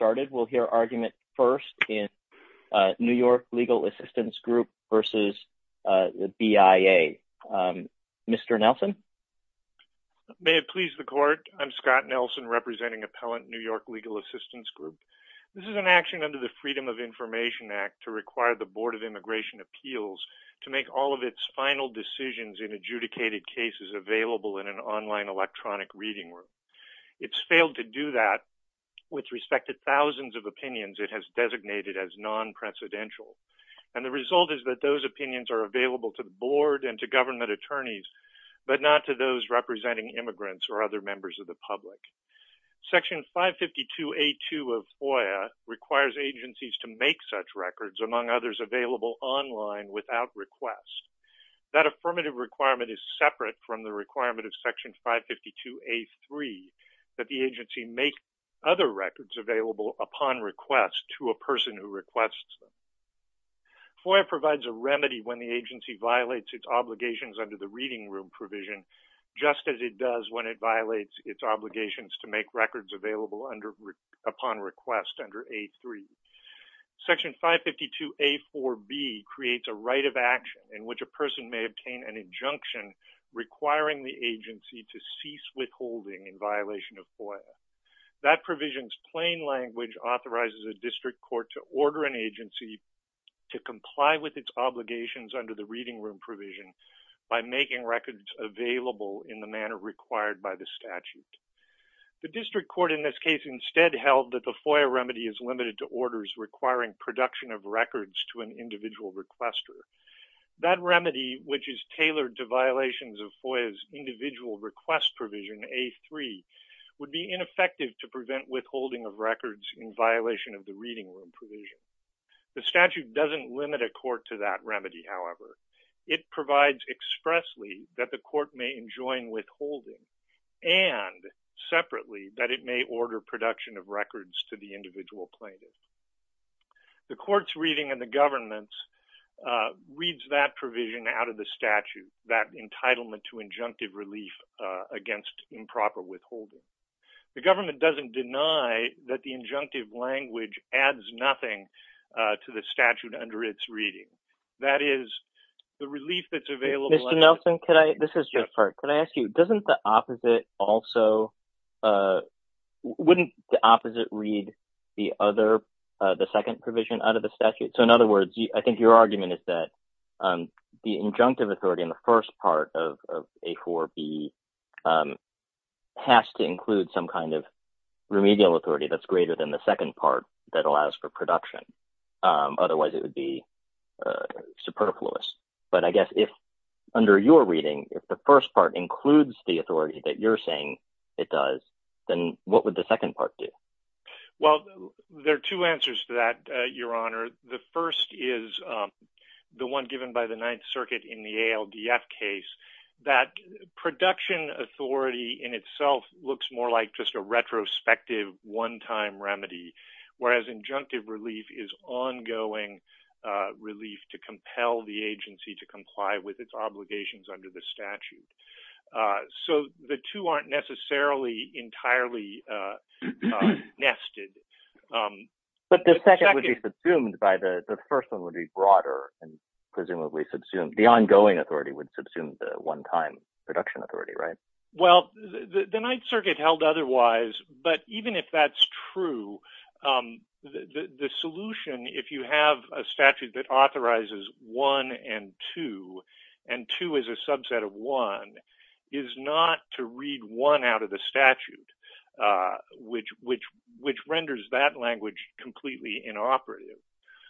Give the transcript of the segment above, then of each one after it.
Scott Nelson, New York Legal Assistance Group This is an action under the Freedom of Information Act to require the Board of Immigration Appeals to make all of its final decisions in adjudicated cases available in an online electronic reading room. It's failed to do that with respect to thousands of opinions it has designated as non-presidential. And the result is that those opinions are available to the Board and to government attorneys, but not to those representing immigrants or other members of the public. Section 552A2 of FOIA requires agencies to make such records, among others, available online without request. That affirmative requirement is separate from the requirement of Section 552A3 that the agency make other records available upon request to a person who requests them. FOIA provides a remedy when the agency violates its obligations under the Reading Room Provision, just as it does when it violates its obligations to make records available upon request under A3. Section 552A4B creates a right of action in which a person may obtain an injunction requiring the agency to cease withholding in violation of FOIA. That provision's plain language authorizes a district court to order an agency to comply with its obligations under the Reading Room Provision by making records available in the manner required by the statute. The district court in this case instead held that the FOIA remedy is limited to orders requiring production of records to an individual requester. That remedy, which is tailored to violations of FOIA's Individual Request Provision, A3, would be ineffective to prevent withholding of records in violation of the Reading Room Provision. The statute doesn't limit a court to that remedy, however. It provides expressly that the court may enjoin withholding and, separately, that it may order production of records to the individual plaintiff. The court's reading and the government's reads that provision out of the statute, that entitlement to injunctive relief against improper withholding. The government doesn't deny that the injunctive language adds nothing to the statute under its reading. That is, the relief that's available… Could I ask you, wouldn't the opposite read the second provision out of the statute? So, in other words, I think your argument is that the injunctive authority in the first part of A4B has to include some kind of remedial authority that's greater than the second part that allows for production. Otherwise, it would be superfluous. But I guess if, under your reading, if the first part includes the authority that you're saying it does, then what would the second part do? Well, there are two answers to that, Your Honor. The first is the one given by the Ninth Circuit in the ALDF case, that production authority in itself looks more like just a retrospective one-time remedy, whereas injunctive relief is ongoing relief to compel the agency to comply with its obligations under the statute. So the two aren't necessarily entirely nested. But the second would be subsumed by the… the first one would be broader and presumably subsumed. The ongoing authority would subsume the one-time production authority, right? Well, the Ninth Circuit held otherwise. But even if that's true, the solution, if you have a statute that authorizes one and two, and two is a subset of one, is not to read one out of the statute, which renders that language completely inoperative.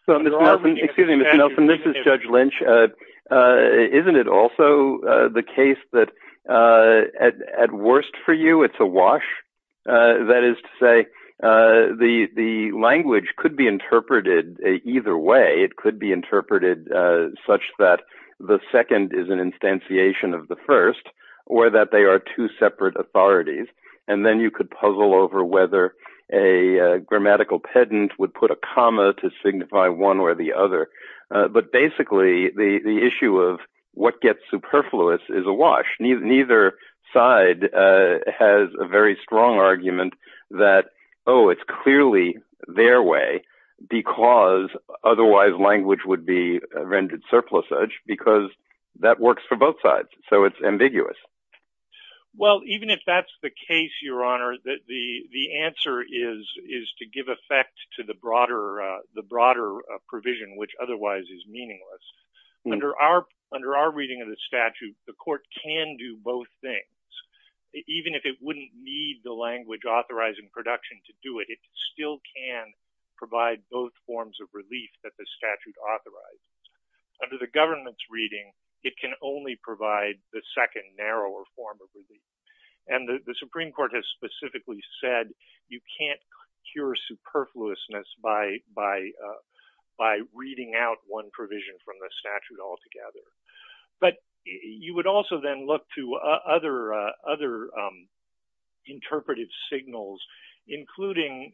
Excuse me, Mr. Nelson. This is Judge Lynch. Isn't it also the case that, at worst for you, it's a wash? That is to say, the language could be interpreted either way. It could be interpreted such that the second is an instantiation of the first, or that they are two separate authorities. And then you could puzzle over whether a grammatical pedant would put a comma to signify one or the other. But basically, the issue of what gets superfluous is a wash. Neither side has a very strong argument that, oh, it's clearly their way because otherwise language would be rendered surplusage, because that works for both sides. So it's ambiguous. Well, even if that's the case, Your Honor, the answer is to give effect to the broader provision, which otherwise is meaningless. Under our reading of the statute, the court can do both things. Even if it wouldn't need the language authorizing production to do it, it still can provide both forms of relief that the statute authorizes. Under the government's reading, it can only provide the second, narrower form of relief. And the Supreme Court has specifically said you can't cure superfluousness by reading out one provision from the statute altogether. But you would also then look to other interpretive signals, including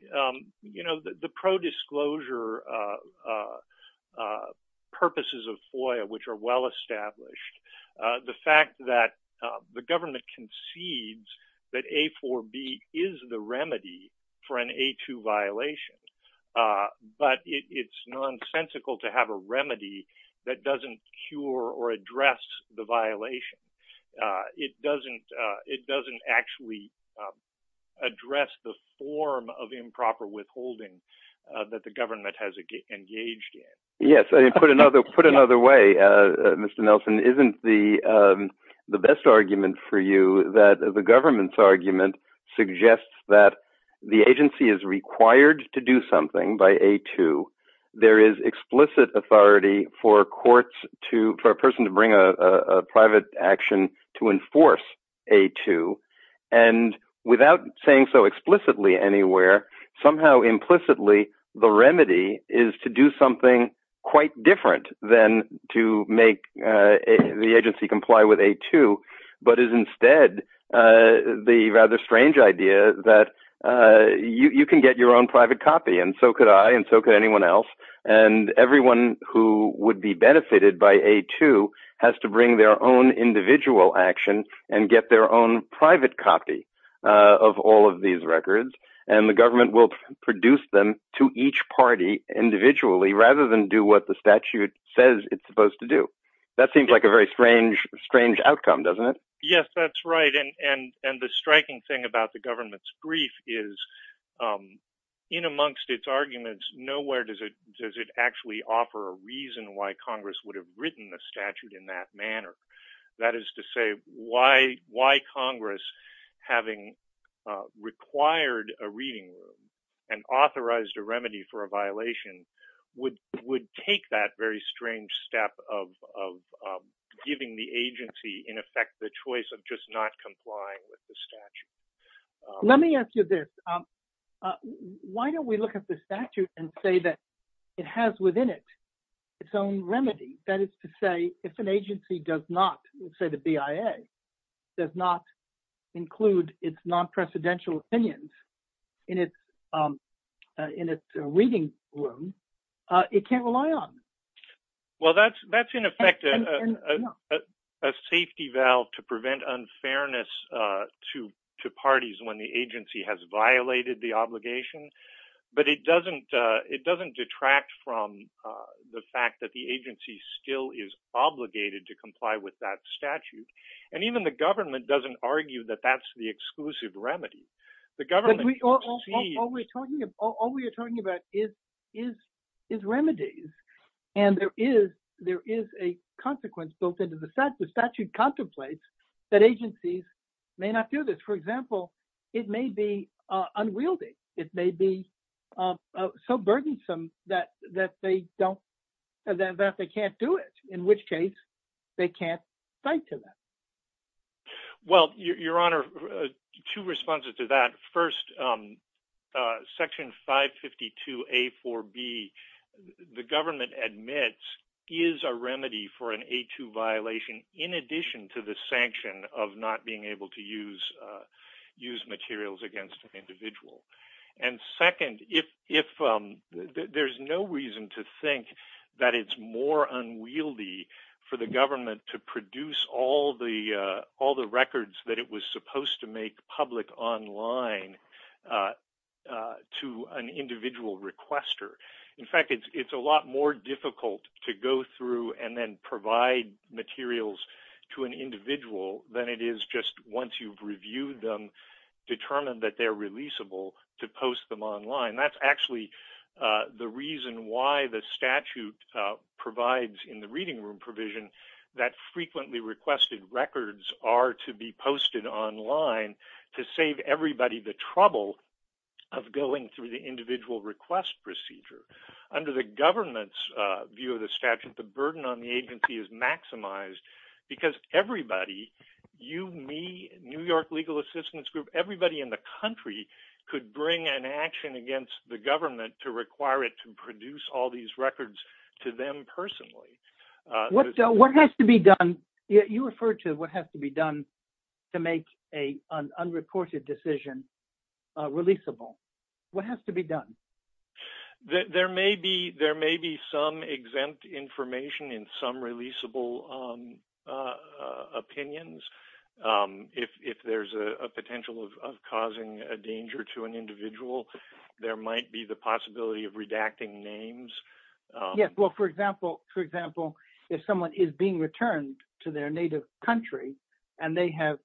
the pro-disclosure purposes of FOIA, which are well established. The fact that the government concedes that A4b is the remedy for an A2 violation, but it's nonsensical to have a remedy that doesn't cure or address the violation. It doesn't actually address the form of improper withholding that the government has engaged in. Put another way, Mr. Nelson, isn't the best argument for you that the government's argument suggests that the agency is required to do something by A2? There is explicit authority for a person to bring a private action to enforce A2. And without saying so explicitly anywhere, somehow implicitly the remedy is to do something quite different than to make the agency comply with A2, but is instead the rather strange idea that you can get your own private copy and so could I and so could anyone else. And everyone who would be benefited by A2 has to bring their own individual action and get their own private copy of all of these records. And the government will produce them to each party individually rather than do what the statute says it's supposed to do. That seems like a very strange outcome, doesn't it? Yes, that's right. And the striking thing about the government's brief is in amongst its arguments, nowhere does it actually offer a reason why Congress would have written the statute in that manner. That is to say, why Congress, having required a reading room and authorized a remedy for a violation, would take that very strange step of giving the agency, in effect, the choice of just not complying with the statute. Let me ask you this. Why don't we look at the statute and say that it has within it its own remedy? That is to say, if an agency does not, let's say the BIA, does not include its non-precedential opinions in its reading room, it can't rely on it. Well, that's in effect a safety valve to prevent unfairness to parties when the agency has violated the obligation. But it doesn't detract from the fact that the agency still is obligated to comply with that statute. And even the government doesn't argue that that's the exclusive remedy. All we are talking about is remedies. And there is a consequence built into the statute. The statute contemplates that agencies may not do this. For example, it may be unwieldy. It may be so burdensome that they can't do it, in which case they can't fight to that. Well, Your Honor, two responses to that. First, Section 552A4B, the government admits, is a remedy for an A2 violation in addition to the sanction of not being able to use materials against an individual. And second, there's no reason to think that it's more unwieldy for the government to produce all the records that it was supposed to make public online to an individual requester. In fact, it's a lot more difficult to go through and then provide materials to an individual than it is just once you've reviewed them, determined that they're releasable, to post them online. That's actually the reason why the statute provides in the reading room provision that frequently requested records are to be posted online to save everybody the trouble of going through the individual request procedure. Under the government's view of the statute, the burden on the agency is maximized because everybody, you, me, New York Legal Assistance Group, everybody in the country could bring an action against the government to require it to produce all these records to them personally. What has to be done? You referred to what has to be done to make an unreported decision releasable. What has to be done? There may be some exempt information in some releasable opinions. If there's a potential of causing a danger to an individual, there might be the possibility of redacting names. Yes. Well, for example, if someone is being returned to their native country and they have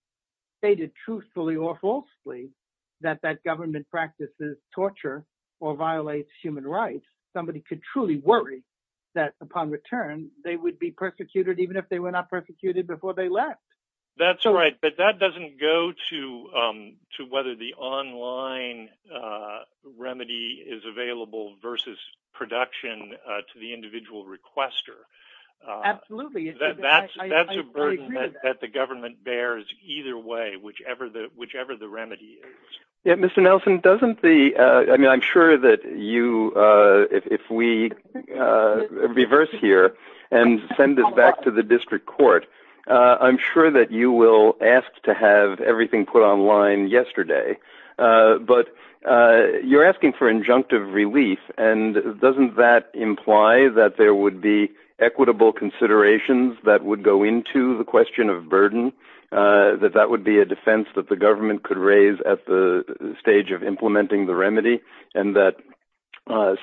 stated truthfully or falsely that that government practices torture or violates human rights, somebody could truly worry that upon return they would be persecuted even if they were not persecuted before they left. That's right, but that doesn't go to whether the online remedy is available versus production to the individual requester. Absolutely. That's a burden that the government bears either way, whichever the remedy is. Mr. Nelson, I'm sure that if we reverse here and send this back to the district court, I'm sure that you will ask to have everything put online yesterday, but you're asking for injunctive relief. Doesn't that imply that there would be equitable considerations that would go into the question of burden, that that would be a defense that the government could raise at the stage of implementing the remedy, and that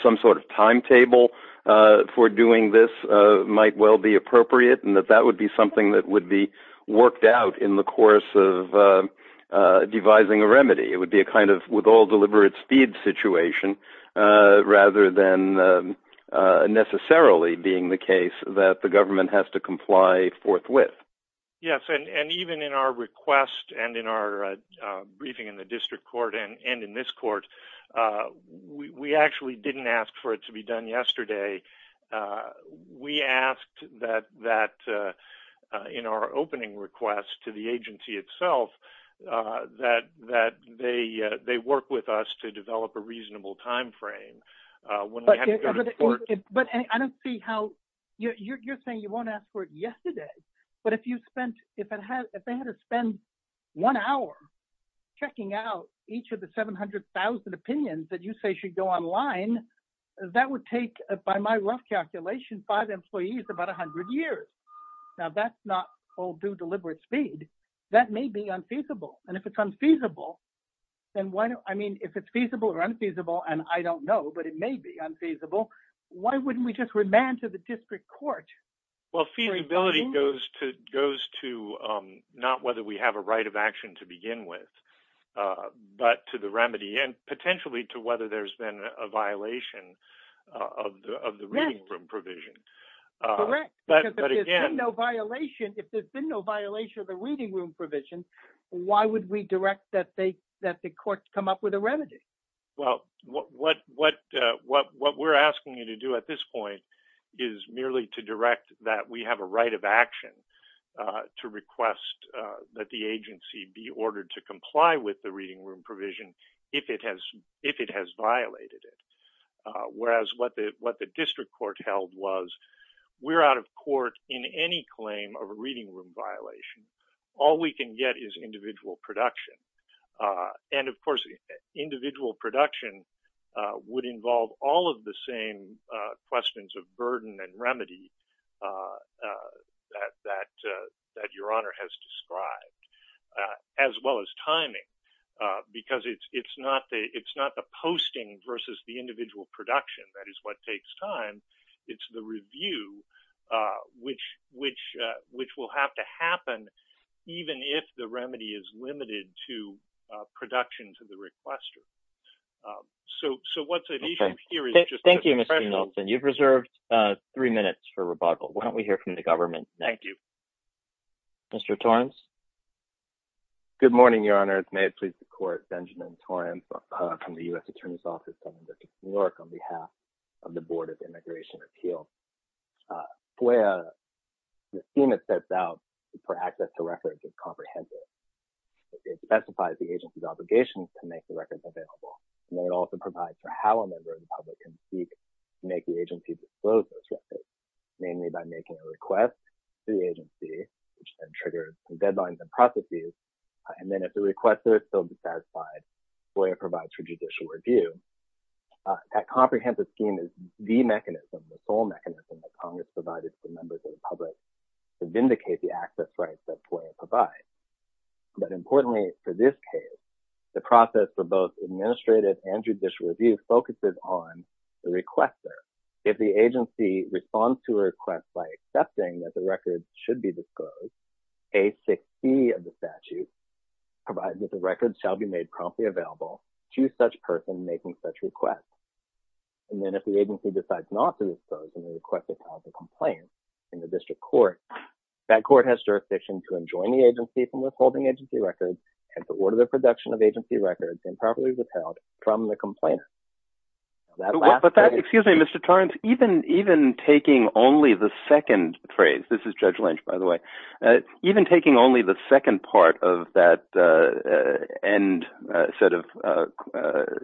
some sort of timetable for doing this might well be appropriate and that that would be something that would be worked out in the course of devising a remedy? It would be a kind of with all deliberate speed situation rather than necessarily being the case that the government has to comply forthwith. Yes, and even in our request and in our briefing in the district court and in this court, we actually didn't ask for it to be done yesterday. We asked that in our opening request to the agency itself that they work with us to develop a reasonable timeframe. But I don't see how – you're saying you won't ask for it yesterday, but if you spent – if they had to spend one hour checking out each of the 700,000 opinions that you say should go online, that would take, by my rough calculation, five employees about 100 years. Now, that's not all due deliberate speed. That may be unfeasible, and if it's unfeasible, then why – I mean, if it's feasible or unfeasible, and I don't know, but it may be unfeasible, why wouldn't we just remand to the district court? Well, feasibility goes to not whether we have a right of action to begin with, but to the remedy and potentially to whether there's been a violation of the reading room provision. Correct. But again – Because if there's been no violation, if there's been no violation of the reading room provision, why would we direct that the court come up with a remedy? Well, what we're asking you to do at this point is merely to direct that we have a right of action to request that the agency be ordered to comply with the reading room provision if it has violated it. Whereas what the district court held was we're out of court in any claim of a reading room violation. All we can get is individual production. And, of course, individual production would involve all of the same questions of burden and remedy that Your Honor has described, as well as timing, because it's not the posting versus the individual production. That is what takes time. It's the review, which will have to happen even if the remedy is limited to production to the requester. Okay. Thank you, Mr. Nelson. You've reserved three minutes for rebuttal. Why don't we hear from the government next? Thank you. Mr. Torrence? Good morning, Your Honor. May it please the court, Benjamin Torrence from the U.S. Attorney's Office of the District of New York on behalf of the Board of Immigration Appeals. FOIA, the scheme it sets out for access to records is comprehensive. It specifies the agency's obligations to make the records available, and it also provides for how a member of the public can seek to make the agency disclose those records, mainly by making a request to the agency, which then triggers the deadlines and processes. And then if the requester is still dissatisfied, FOIA provides for judicial review. That comprehensive scheme is the mechanism, the sole mechanism that Congress provided to members of the public to vindicate the access rights that FOIA provides. But importantly for this case, the process for both administrative and judicial review focuses on the requester. If the agency responds to a request by accepting that the records should be disclosed, A.6.C. of the statute provides that the records shall be made promptly available to such person making such requests. And then if the agency decides not to disclose and the requester files a complaint in the district court, that court has jurisdiction to enjoin the agency from withholding agency records and to order the production of agency records improperly withheld from the complainant. Excuse me, Mr. Torrence, even taking only the second phrase, this is Judge Lynch, by the way, even taking only the second part of that end set of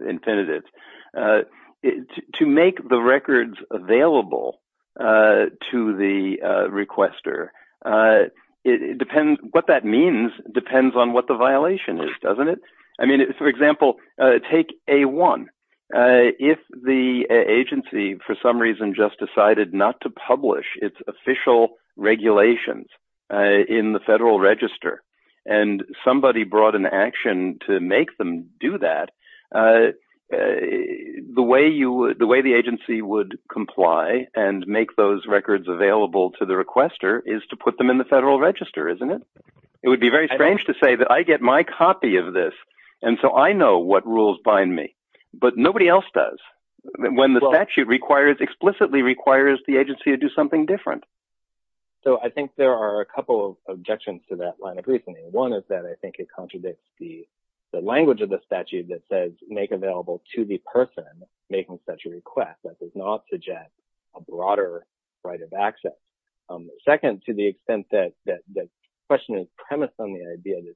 infinitives, to make the records available to the requester, what that means depends on what the violation is, doesn't it? I mean, for example, take A.1. If the agency for some reason just decided not to publish its official regulations in the Federal Register and somebody brought an action to make them do that, the way the agency would comply and make those records available to the requester is to put them in the Federal Register, isn't it? It would be very strange to say that I get my copy of this, and so I know what rules bind me, but nobody else does. When the statute explicitly requires the agency to do something different. So I think there are a couple of objections to that line of reasoning. One is that I think it contradicts the language of the statute that says make available to the person making such a request. That does not suggest a broader right of access. Second, to the extent that the question is premised on the idea that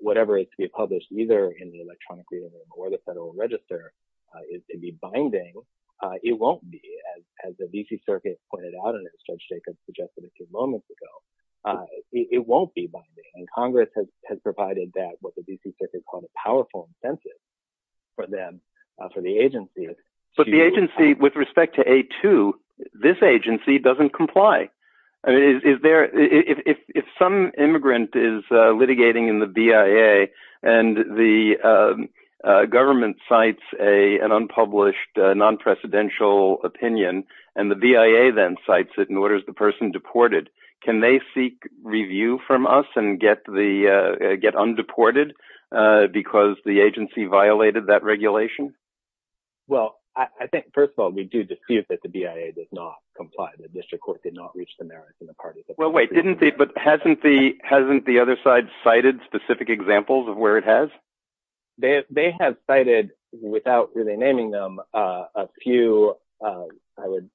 whatever is to be published, either in the electronic reading or the Federal Register, is to be binding, it won't be. As the D.C. Circuit pointed out, and as Judge Jacobs suggested a few moments ago, it won't be binding. And Congress has provided that, what the D.C. Circuit called a powerful incentive for them, for the agency. Well, I think, first of all, we do dispute that the BIA does not comply. The district court did not reach the merits in the parties that… Well, wait, didn't they, but hasn't the other side cited specific examples of where it has? They have cited, without really naming them, a few, I would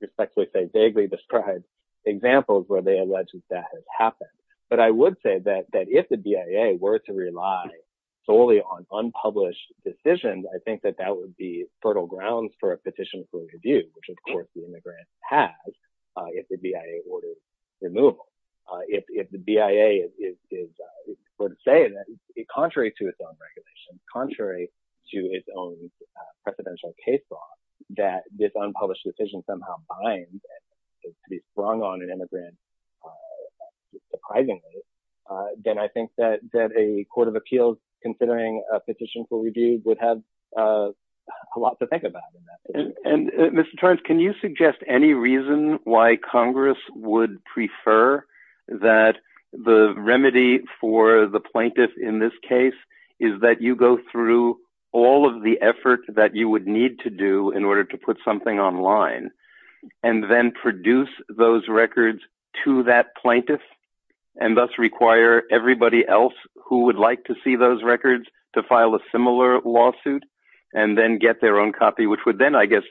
respectfully say vaguely described examples where they allege that that has happened. But I would say that if the BIA were to rely solely on unpublished decisions, I think that that would be fertile grounds for a petition for review, which, of course, the immigrant has if the BIA orders removal. If the BIA were to say that, contrary to its own regulations, contrary to its own precedential case law, that this unpublished decision somehow binds and is to be sprung on an immigrant surprisingly, then I think that a court of appeals considering a petition for review would have a lot to think about in that situation. Mr. Torrence, can you suggest any reason why Congress would prefer that the remedy for the plaintiff in this case is that you go through all of the effort that you would need to do in order to put something online and then produce those records to that plaintiff and thus require everybody else who would like to see those records to file a similar lawsuit and then get their own copy, which would then, I guess,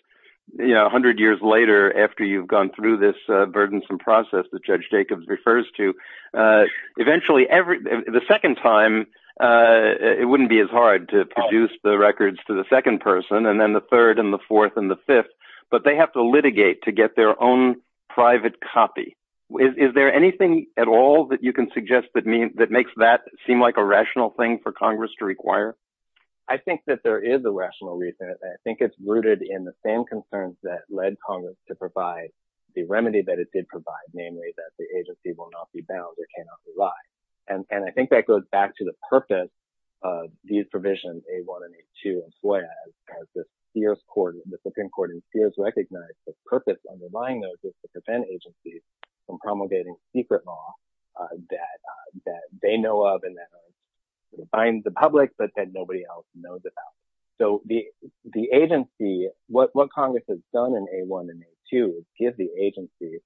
100 years later after you've gone through this burdensome process that Judge Jacobs refers to, eventually, the second time, it wouldn't be as hard to produce the records to the second person and then the third and the fourth and the fifth, but they have to litigate to get their own private copy. Is there anything at all that you can suggest that makes that seem like a rational thing for Congress to require? I think that there is a rational reason. I think it's rooted in the same concerns that led Congress to provide the remedy that it did provide, namely, that the agency will not be bound or cannot rely. And I think that goes back to the purpose of these provisions, A1 and A2, as well, as the Supreme Court in Sears recognized the purpose underlying those is to prevent agencies from promulgating secret law that they know of and that binds the public but that nobody else knows about. So, the agency, what Congress has done in A1 and A2 is give the agency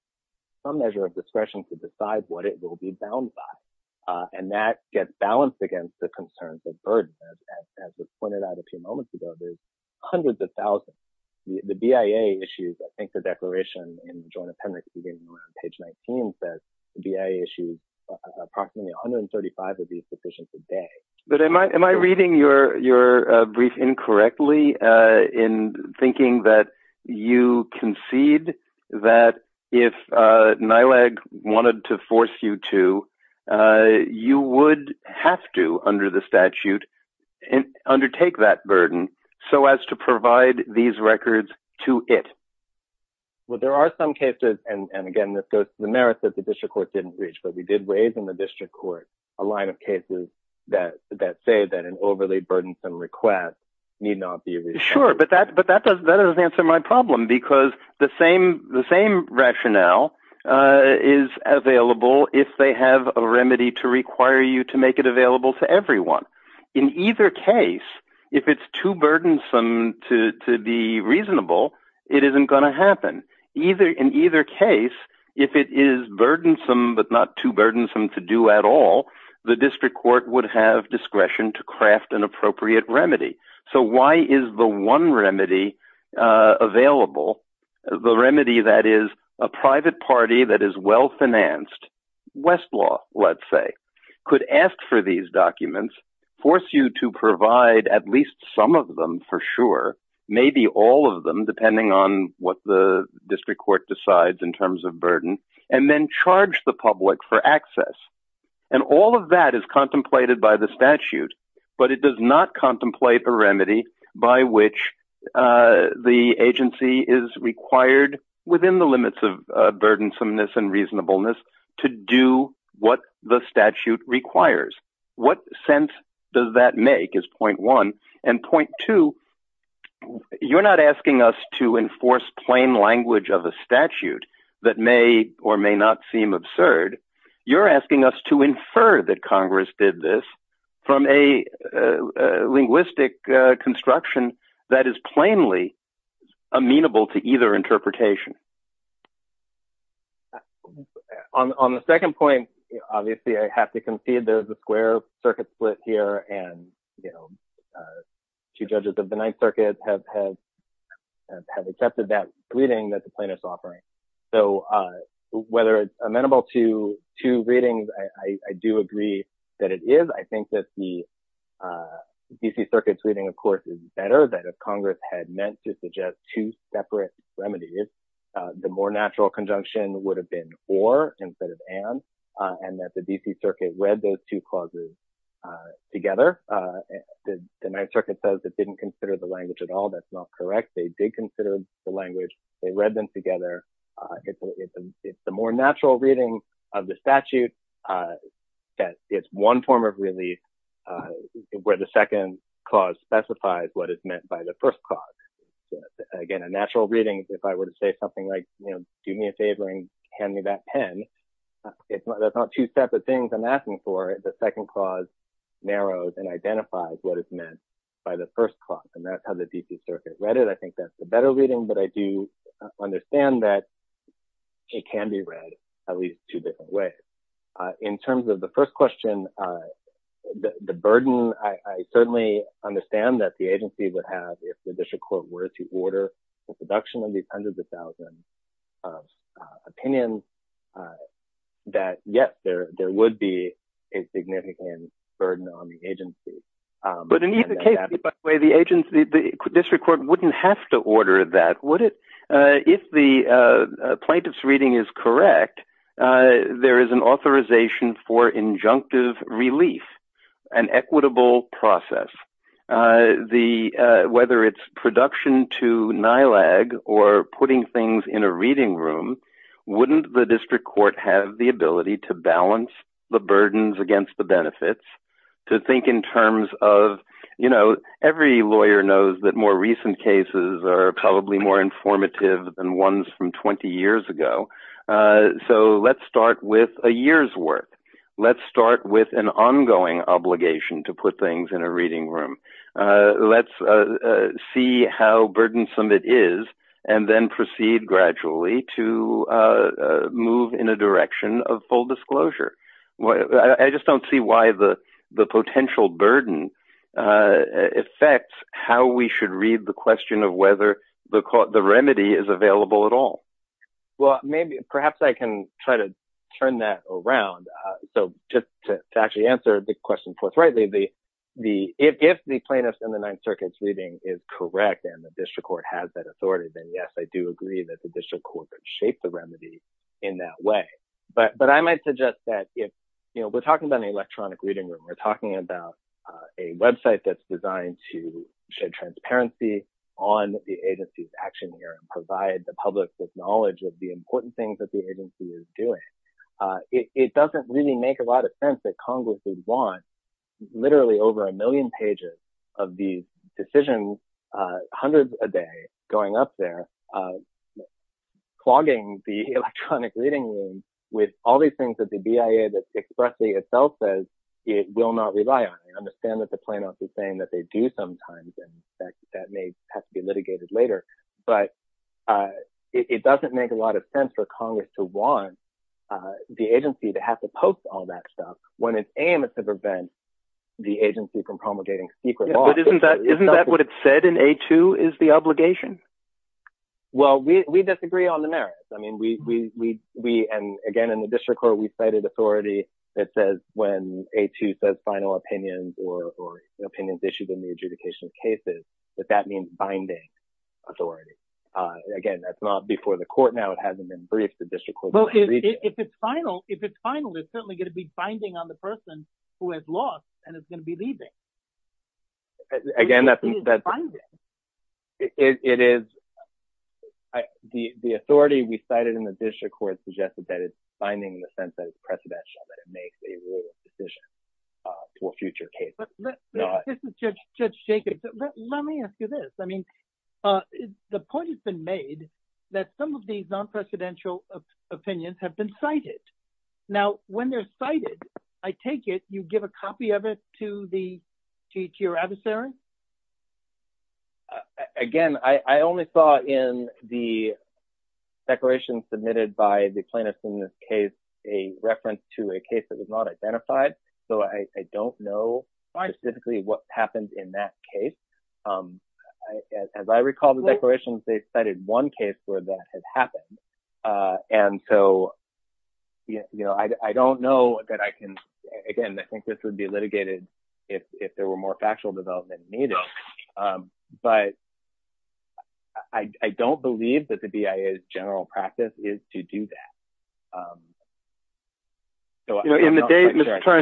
some measure of discretion to decide what it will be bound by. And that gets balanced against the concerns of burden. As was pointed out a few moments ago, there's hundreds of thousands. The BIA issues, I think, the declaration in the Joint Appendix, beginning on page 19, says the BIA issues approximately 135 of these decisions a day. But am I reading your brief incorrectly in thinking that you concede that if NILAG wanted to force you to, you would have to, under the statute, undertake that burden so as to provide these records to it? Well, there are some cases, and again, this goes to the merits that the district court didn't reach, but we did raise in the district court a line of cases that say that an overly burdensome request need not be reached. Sure, but that doesn't answer my problem because the same rationale is available if they have a remedy to require you to make it available to everyone. In either case, if it's too burdensome to be reasonable, it isn't going to happen. In either case, if it is burdensome but not too burdensome to do at all, the district court would have discretion to craft an appropriate remedy. So why is the one remedy available, the remedy that is a private party that is well-financed, Westlaw, let's say, could ask for these documents, force you to provide at least some of them for sure, maybe all of them, depending on what the district court decides in terms of burden, and then charge the public for access? And all of that is contemplated by the statute, but it does not contemplate a remedy by which the agency is required within the limits of burdensomeness and reasonableness to do what the statute requires. What sense does that make is point one, and point two, you're not asking us to enforce plain language of a statute that may or may not seem absurd. You're asking us to infer that Congress did this from a linguistic construction that is plainly amenable to either interpretation. On the second point, obviously, I have to concede there's a square circuit split here, and two judges of the Ninth Circuit have accepted that reading that the plaintiff's offering. So whether it's amenable to two readings, I do agree that it is. I think that the D.C. Circuit's reading, of course, is better, that if Congress had meant to suggest two separate remedies, the more natural conjunction would have been or instead of and, and that the D.C. Circuit read those two clauses together. The Ninth Circuit says it didn't consider the language at all. That's not correct. They did consider the language. They read them together. It's the more natural reading of the statute that it's one form of relief where the second clause specifies what is meant by the first clause. Again, a natural reading, if I were to say something like, you know, do me a favor and hand me that pen. That's not two separate things I'm asking for. The second clause narrows and identifies what is meant by the first clause, and that's how the D.C. Circuit read it. I think that's the better reading, but I do understand that it can be read at least two different ways. In terms of the first question, the burden, I certainly understand that the agency would have, if the district court were to order the production of these hundreds of thousands of opinions, that, yes, there would be a significant burden on the agency. But in either case, by the way, the agency, the district court wouldn't have to order that, would it? If the plaintiff's reading is correct, there is an authorization for injunctive relief, an equitable process. Whether it's production to NILAG or putting things in a reading room, wouldn't the district court have the ability to balance the burdens against the benefits, to think in terms of, you know, every lawyer knows that more recent cases are probably more informative than ones from 20 years ago. So let's start with a year's worth. Let's start with an ongoing obligation to put things in a reading room. Let's see how burdensome it is and then proceed gradually to move in a direction of full disclosure. I just don't see why the potential burden affects how we should read the question of whether the remedy is available at all. Well, perhaps I can try to turn that around. So just to actually answer the question forthrightly, if the plaintiff's and the Ninth Circuit's reading is correct and the district court has that authority, then yes, I do agree that the district court could shape the remedy in that way. But I might suggest that if, you know, we're talking about an electronic reading room, we're talking about a website that's designed to shed transparency on the agency's action here and provide the public with knowledge of the important things that the agency is doing. It doesn't really make a lot of sense that Congress would want literally over a million pages of these decisions, hundreds a day going up there, clogging the electronic reading room with all these things that the BIA expressly itself says it will not rely on. I understand that the plaintiffs are saying that they do sometimes, and that may have to be litigated later. But it doesn't make a lot of sense for Congress to want the agency to have to post all that stuff when its aim is to prevent the agency from promulgating secret law. Isn't that what it said in A2 is the obligation? Well, we disagree on the merits. I mean, we – and again, in the district court, we cited authority that says when A2 says final opinions or opinions issued in the adjudication of cases, that that means binding authority. Again, that's not before the court now. It hasn't been briefed. The district court will have to read that. Well, if it's final, it's certainly going to be binding on the person who has lost and is going to be leaving. It is binding. It is. The authority we cited in the district court suggested that it's binding in the sense that it's precedential, that it makes a ruling decision for future cases. This is Judge Jacobs. Let me ask you this. I mean, the point has been made that some of these nonpresidential opinions have been cited. Now, when they're cited, I take it you give a copy of it to your adversary? Again, I only saw in the declaration submitted by the plaintiffs in this case a reference to a case that was not identified, so I don't know specifically what happened in that case. As I recall the declarations, they cited one case where that had happened, and so I don't know that I can – again, I think this would be litigated if there were more factual development needed. But I don't believe that the BIA's general practice is to do that.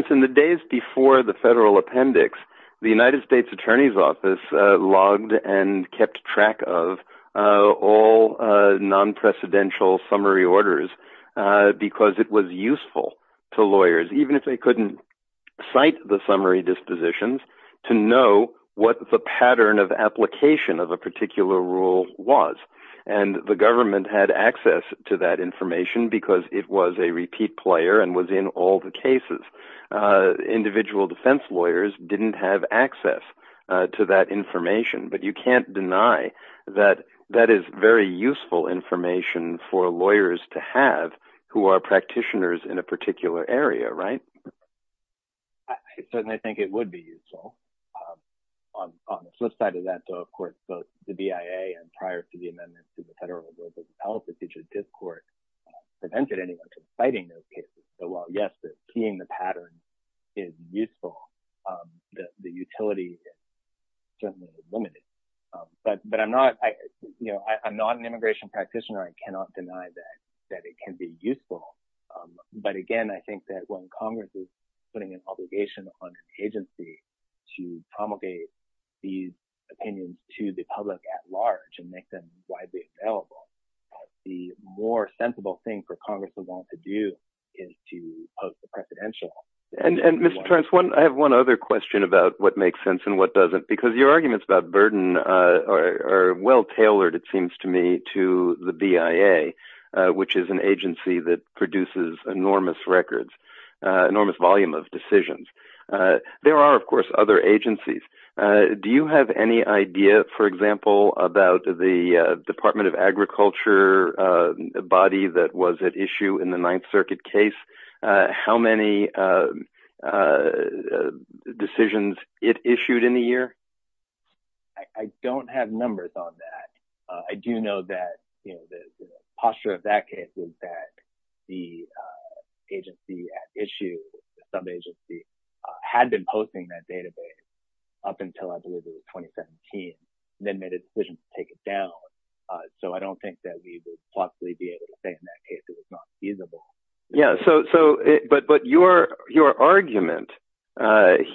In the days before the federal appendix, the United States Attorney's Office logged and kept track of all nonpresidential summary orders because it was useful to lawyers, even if they couldn't cite the summary dispositions, to know what the pattern of application of a particular rule was. And the government had access to that information because it was a repeat player and was in all the cases. Individual defense lawyers didn't have access to that information, but you can't deny that that is very useful information for lawyers to have who are practitioners in a particular area, right? I certainly think it would be useful. On the flip side of that, though, of course, both the BIA and prior to the amendments to the Federal Rules of Health, the teachers' discord prevented anyone from citing those cases. So while, yes, keying the pattern is useful, the utility is certainly limited. But I'm not an immigration practitioner. I cannot deny that it can be useful. But again, I think that when Congress is putting an obligation on an agency to promulgate these opinions to the public at large and make them widely available, the more sensible thing for Congress to want to do is to post the presidential. And, Mr. Torrence, I have one other question about what makes sense and what doesn't. Because your arguments about burden are well tailored, it seems to me, to the BIA, which is an agency that produces enormous records, enormous volume of decisions. There are, of course, other agencies. Do you have any idea, for example, about the Department of Agriculture body that was at issue in the Ninth Circuit case? How many decisions it issued in a year? I don't have numbers on that. I do know that the posture of that case was that the agency at issue, some agency, had been posting that database up until I believe it was 2017, and then made a decision to take it down. So I don't think that we would possibly be able to say in that case it was not feasible. But your argument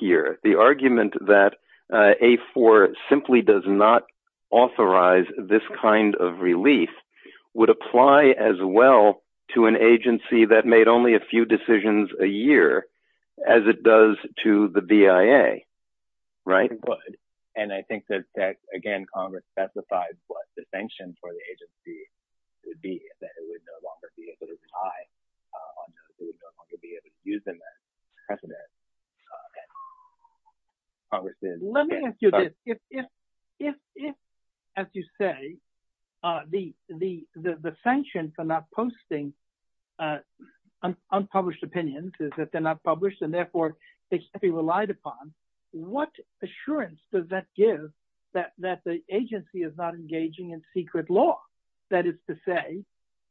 here, the argument that A4 simply does not authorize this kind of relief, would apply as well to an agency that made only a few decisions a year as it does to the BIA, right? And I think that, again, Congress specified what the sanctions for the agency would be, that it would no longer be able to rely on those, it would no longer be able to use them as precedent. Let me ask you this. If, as you say, the sanctions are not posting unpublished opinions, is that they're not published and therefore they can't be relied upon, what assurance does that give that the agency is not engaging in secret law? That is to say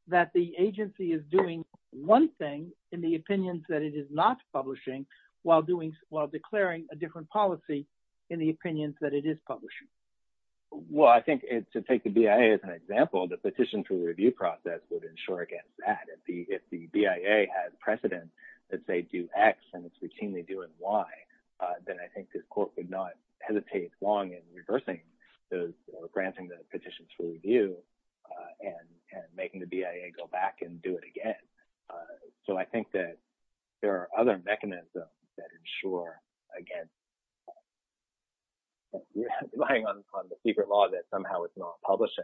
that the agency is doing one thing in the opinions that it is not publishing while declaring a different policy in the opinions that it is publishing. Well, I think to take the BIA as an example, the petition for review process would ensure against that. If the BIA has precedent that they do X and it's routinely doing Y, then I think this court would not hesitate long in reversing those or granting the petition for review and making the BIA go back and do it again. So I think that there are other mechanisms that ensure against relying on the secret law that somehow it's not publishing.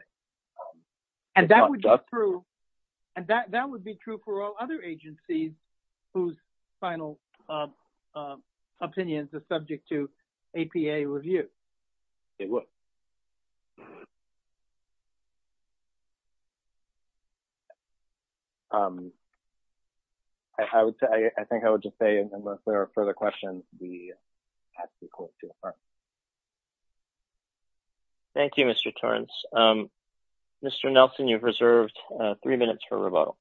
And that would be true for all other agencies whose final opinions are subject to APA review? It would. I think I would just say unless there are further questions, we ask the court to affirm. Thank you, Mr. Torrence. Mr. Nelson, you've reserved three minutes for rebuttal.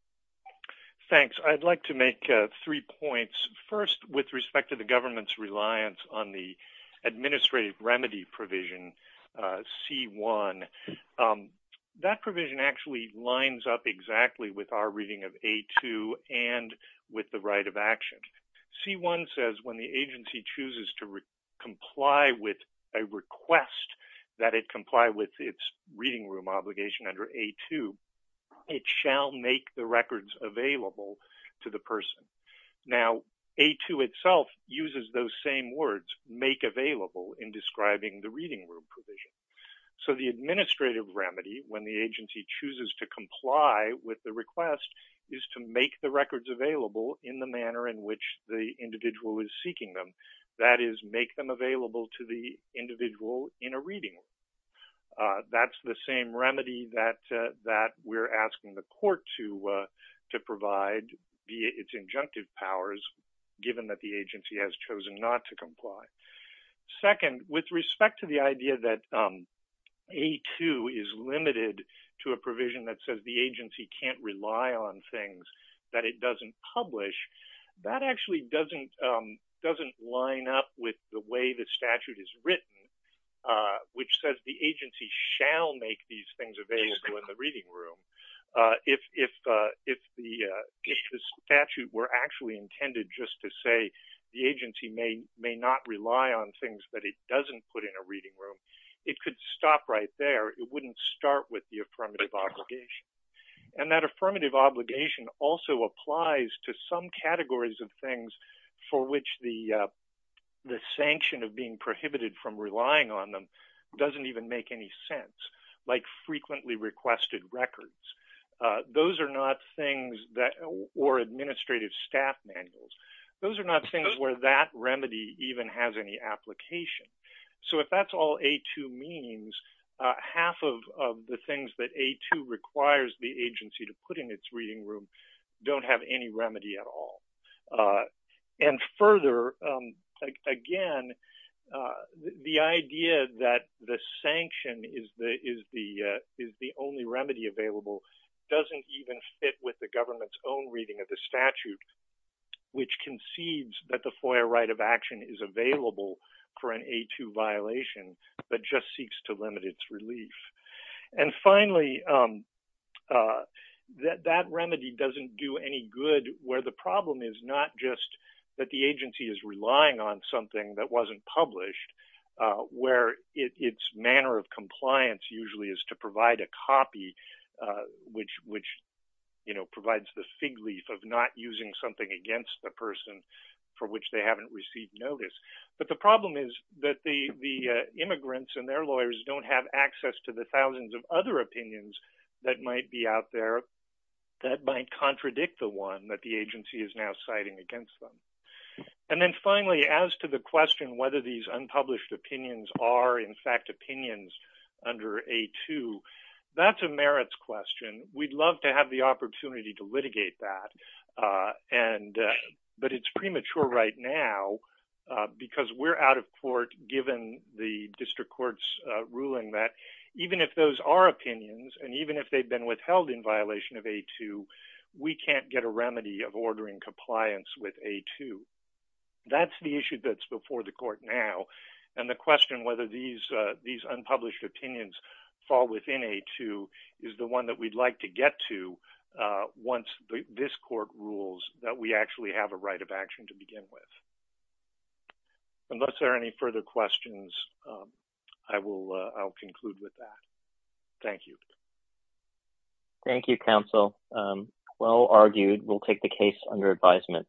Thanks. I'd like to make three points. First, with respect to the government's reliance on the administrative remedy provision C-1, that provision actually lines up exactly with our reading of A-2 and with the right of action. C-1 says when the agency chooses to comply with a request that it comply with its reading room obligation under A-2, it shall make the records available to the person. Now, A-2 itself uses those same words, make available, in describing the reading room provision. So the administrative remedy, when the agency chooses to comply with the request, is to make the records available in the manner in which the individual is seeking them. That is, make them available to the individual in a reading room. That's the same remedy that we're asking the court to provide via its injunctive powers, Second, with respect to the idea that A-2 is limited to a provision that says the agency can't rely on things that it doesn't publish, that actually doesn't line up with the way the statute is written, which says the agency shall make these things available in the reading room. If the statute were actually intended just to say the agency may not rely on things that it doesn't put in a reading room, it could stop right there. It wouldn't start with the affirmative obligation. And that affirmative obligation also applies to some categories of things for which the sanction of being prohibited from relying on them doesn't even make any sense, like frequently requested records or administrative staff manuals. Those are not things where that remedy even has any application. So if that's all A-2 means, half of the things that A-2 requires the agency to put in its reading room don't have any remedy at all. And further, again, the idea that the sanction is the only remedy available doesn't even fit with the government's own reading of the statute, which concedes that the FOIA right of action is available for an A-2 violation, but just seeks to limit its relief. And finally, that remedy doesn't do any good where the problem is not just that the agency is relying on something that wasn't published, where its manner of compliance usually is to provide a copy, which provides the fig leaf of not using something against the person for which they haven't received notice. But the problem is that the immigrants and their lawyers don't have access to the thousands of other opinions that might be out there that might contradict the one that the agency is now citing against them. And then finally, as to the question whether these unpublished opinions are, in fact, opinions under A-2, that's a merits question. We'd love to have the opportunity to litigate that, but it's premature right now because we're out of court given the district court's ruling that even if those are opinions, and even if they've been withheld in violation of A-2, we can't get a remedy of ordering compliance with A-2. That's the issue that's before the court now, and the question whether these unpublished opinions fall within A-2 is the one that we'd like to get to once this court rules that we actually have a right of action to begin with. Unless there are any further questions, I will conclude with that. Thank you. Thank you, counsel. Well argued. We'll take the case under advisement.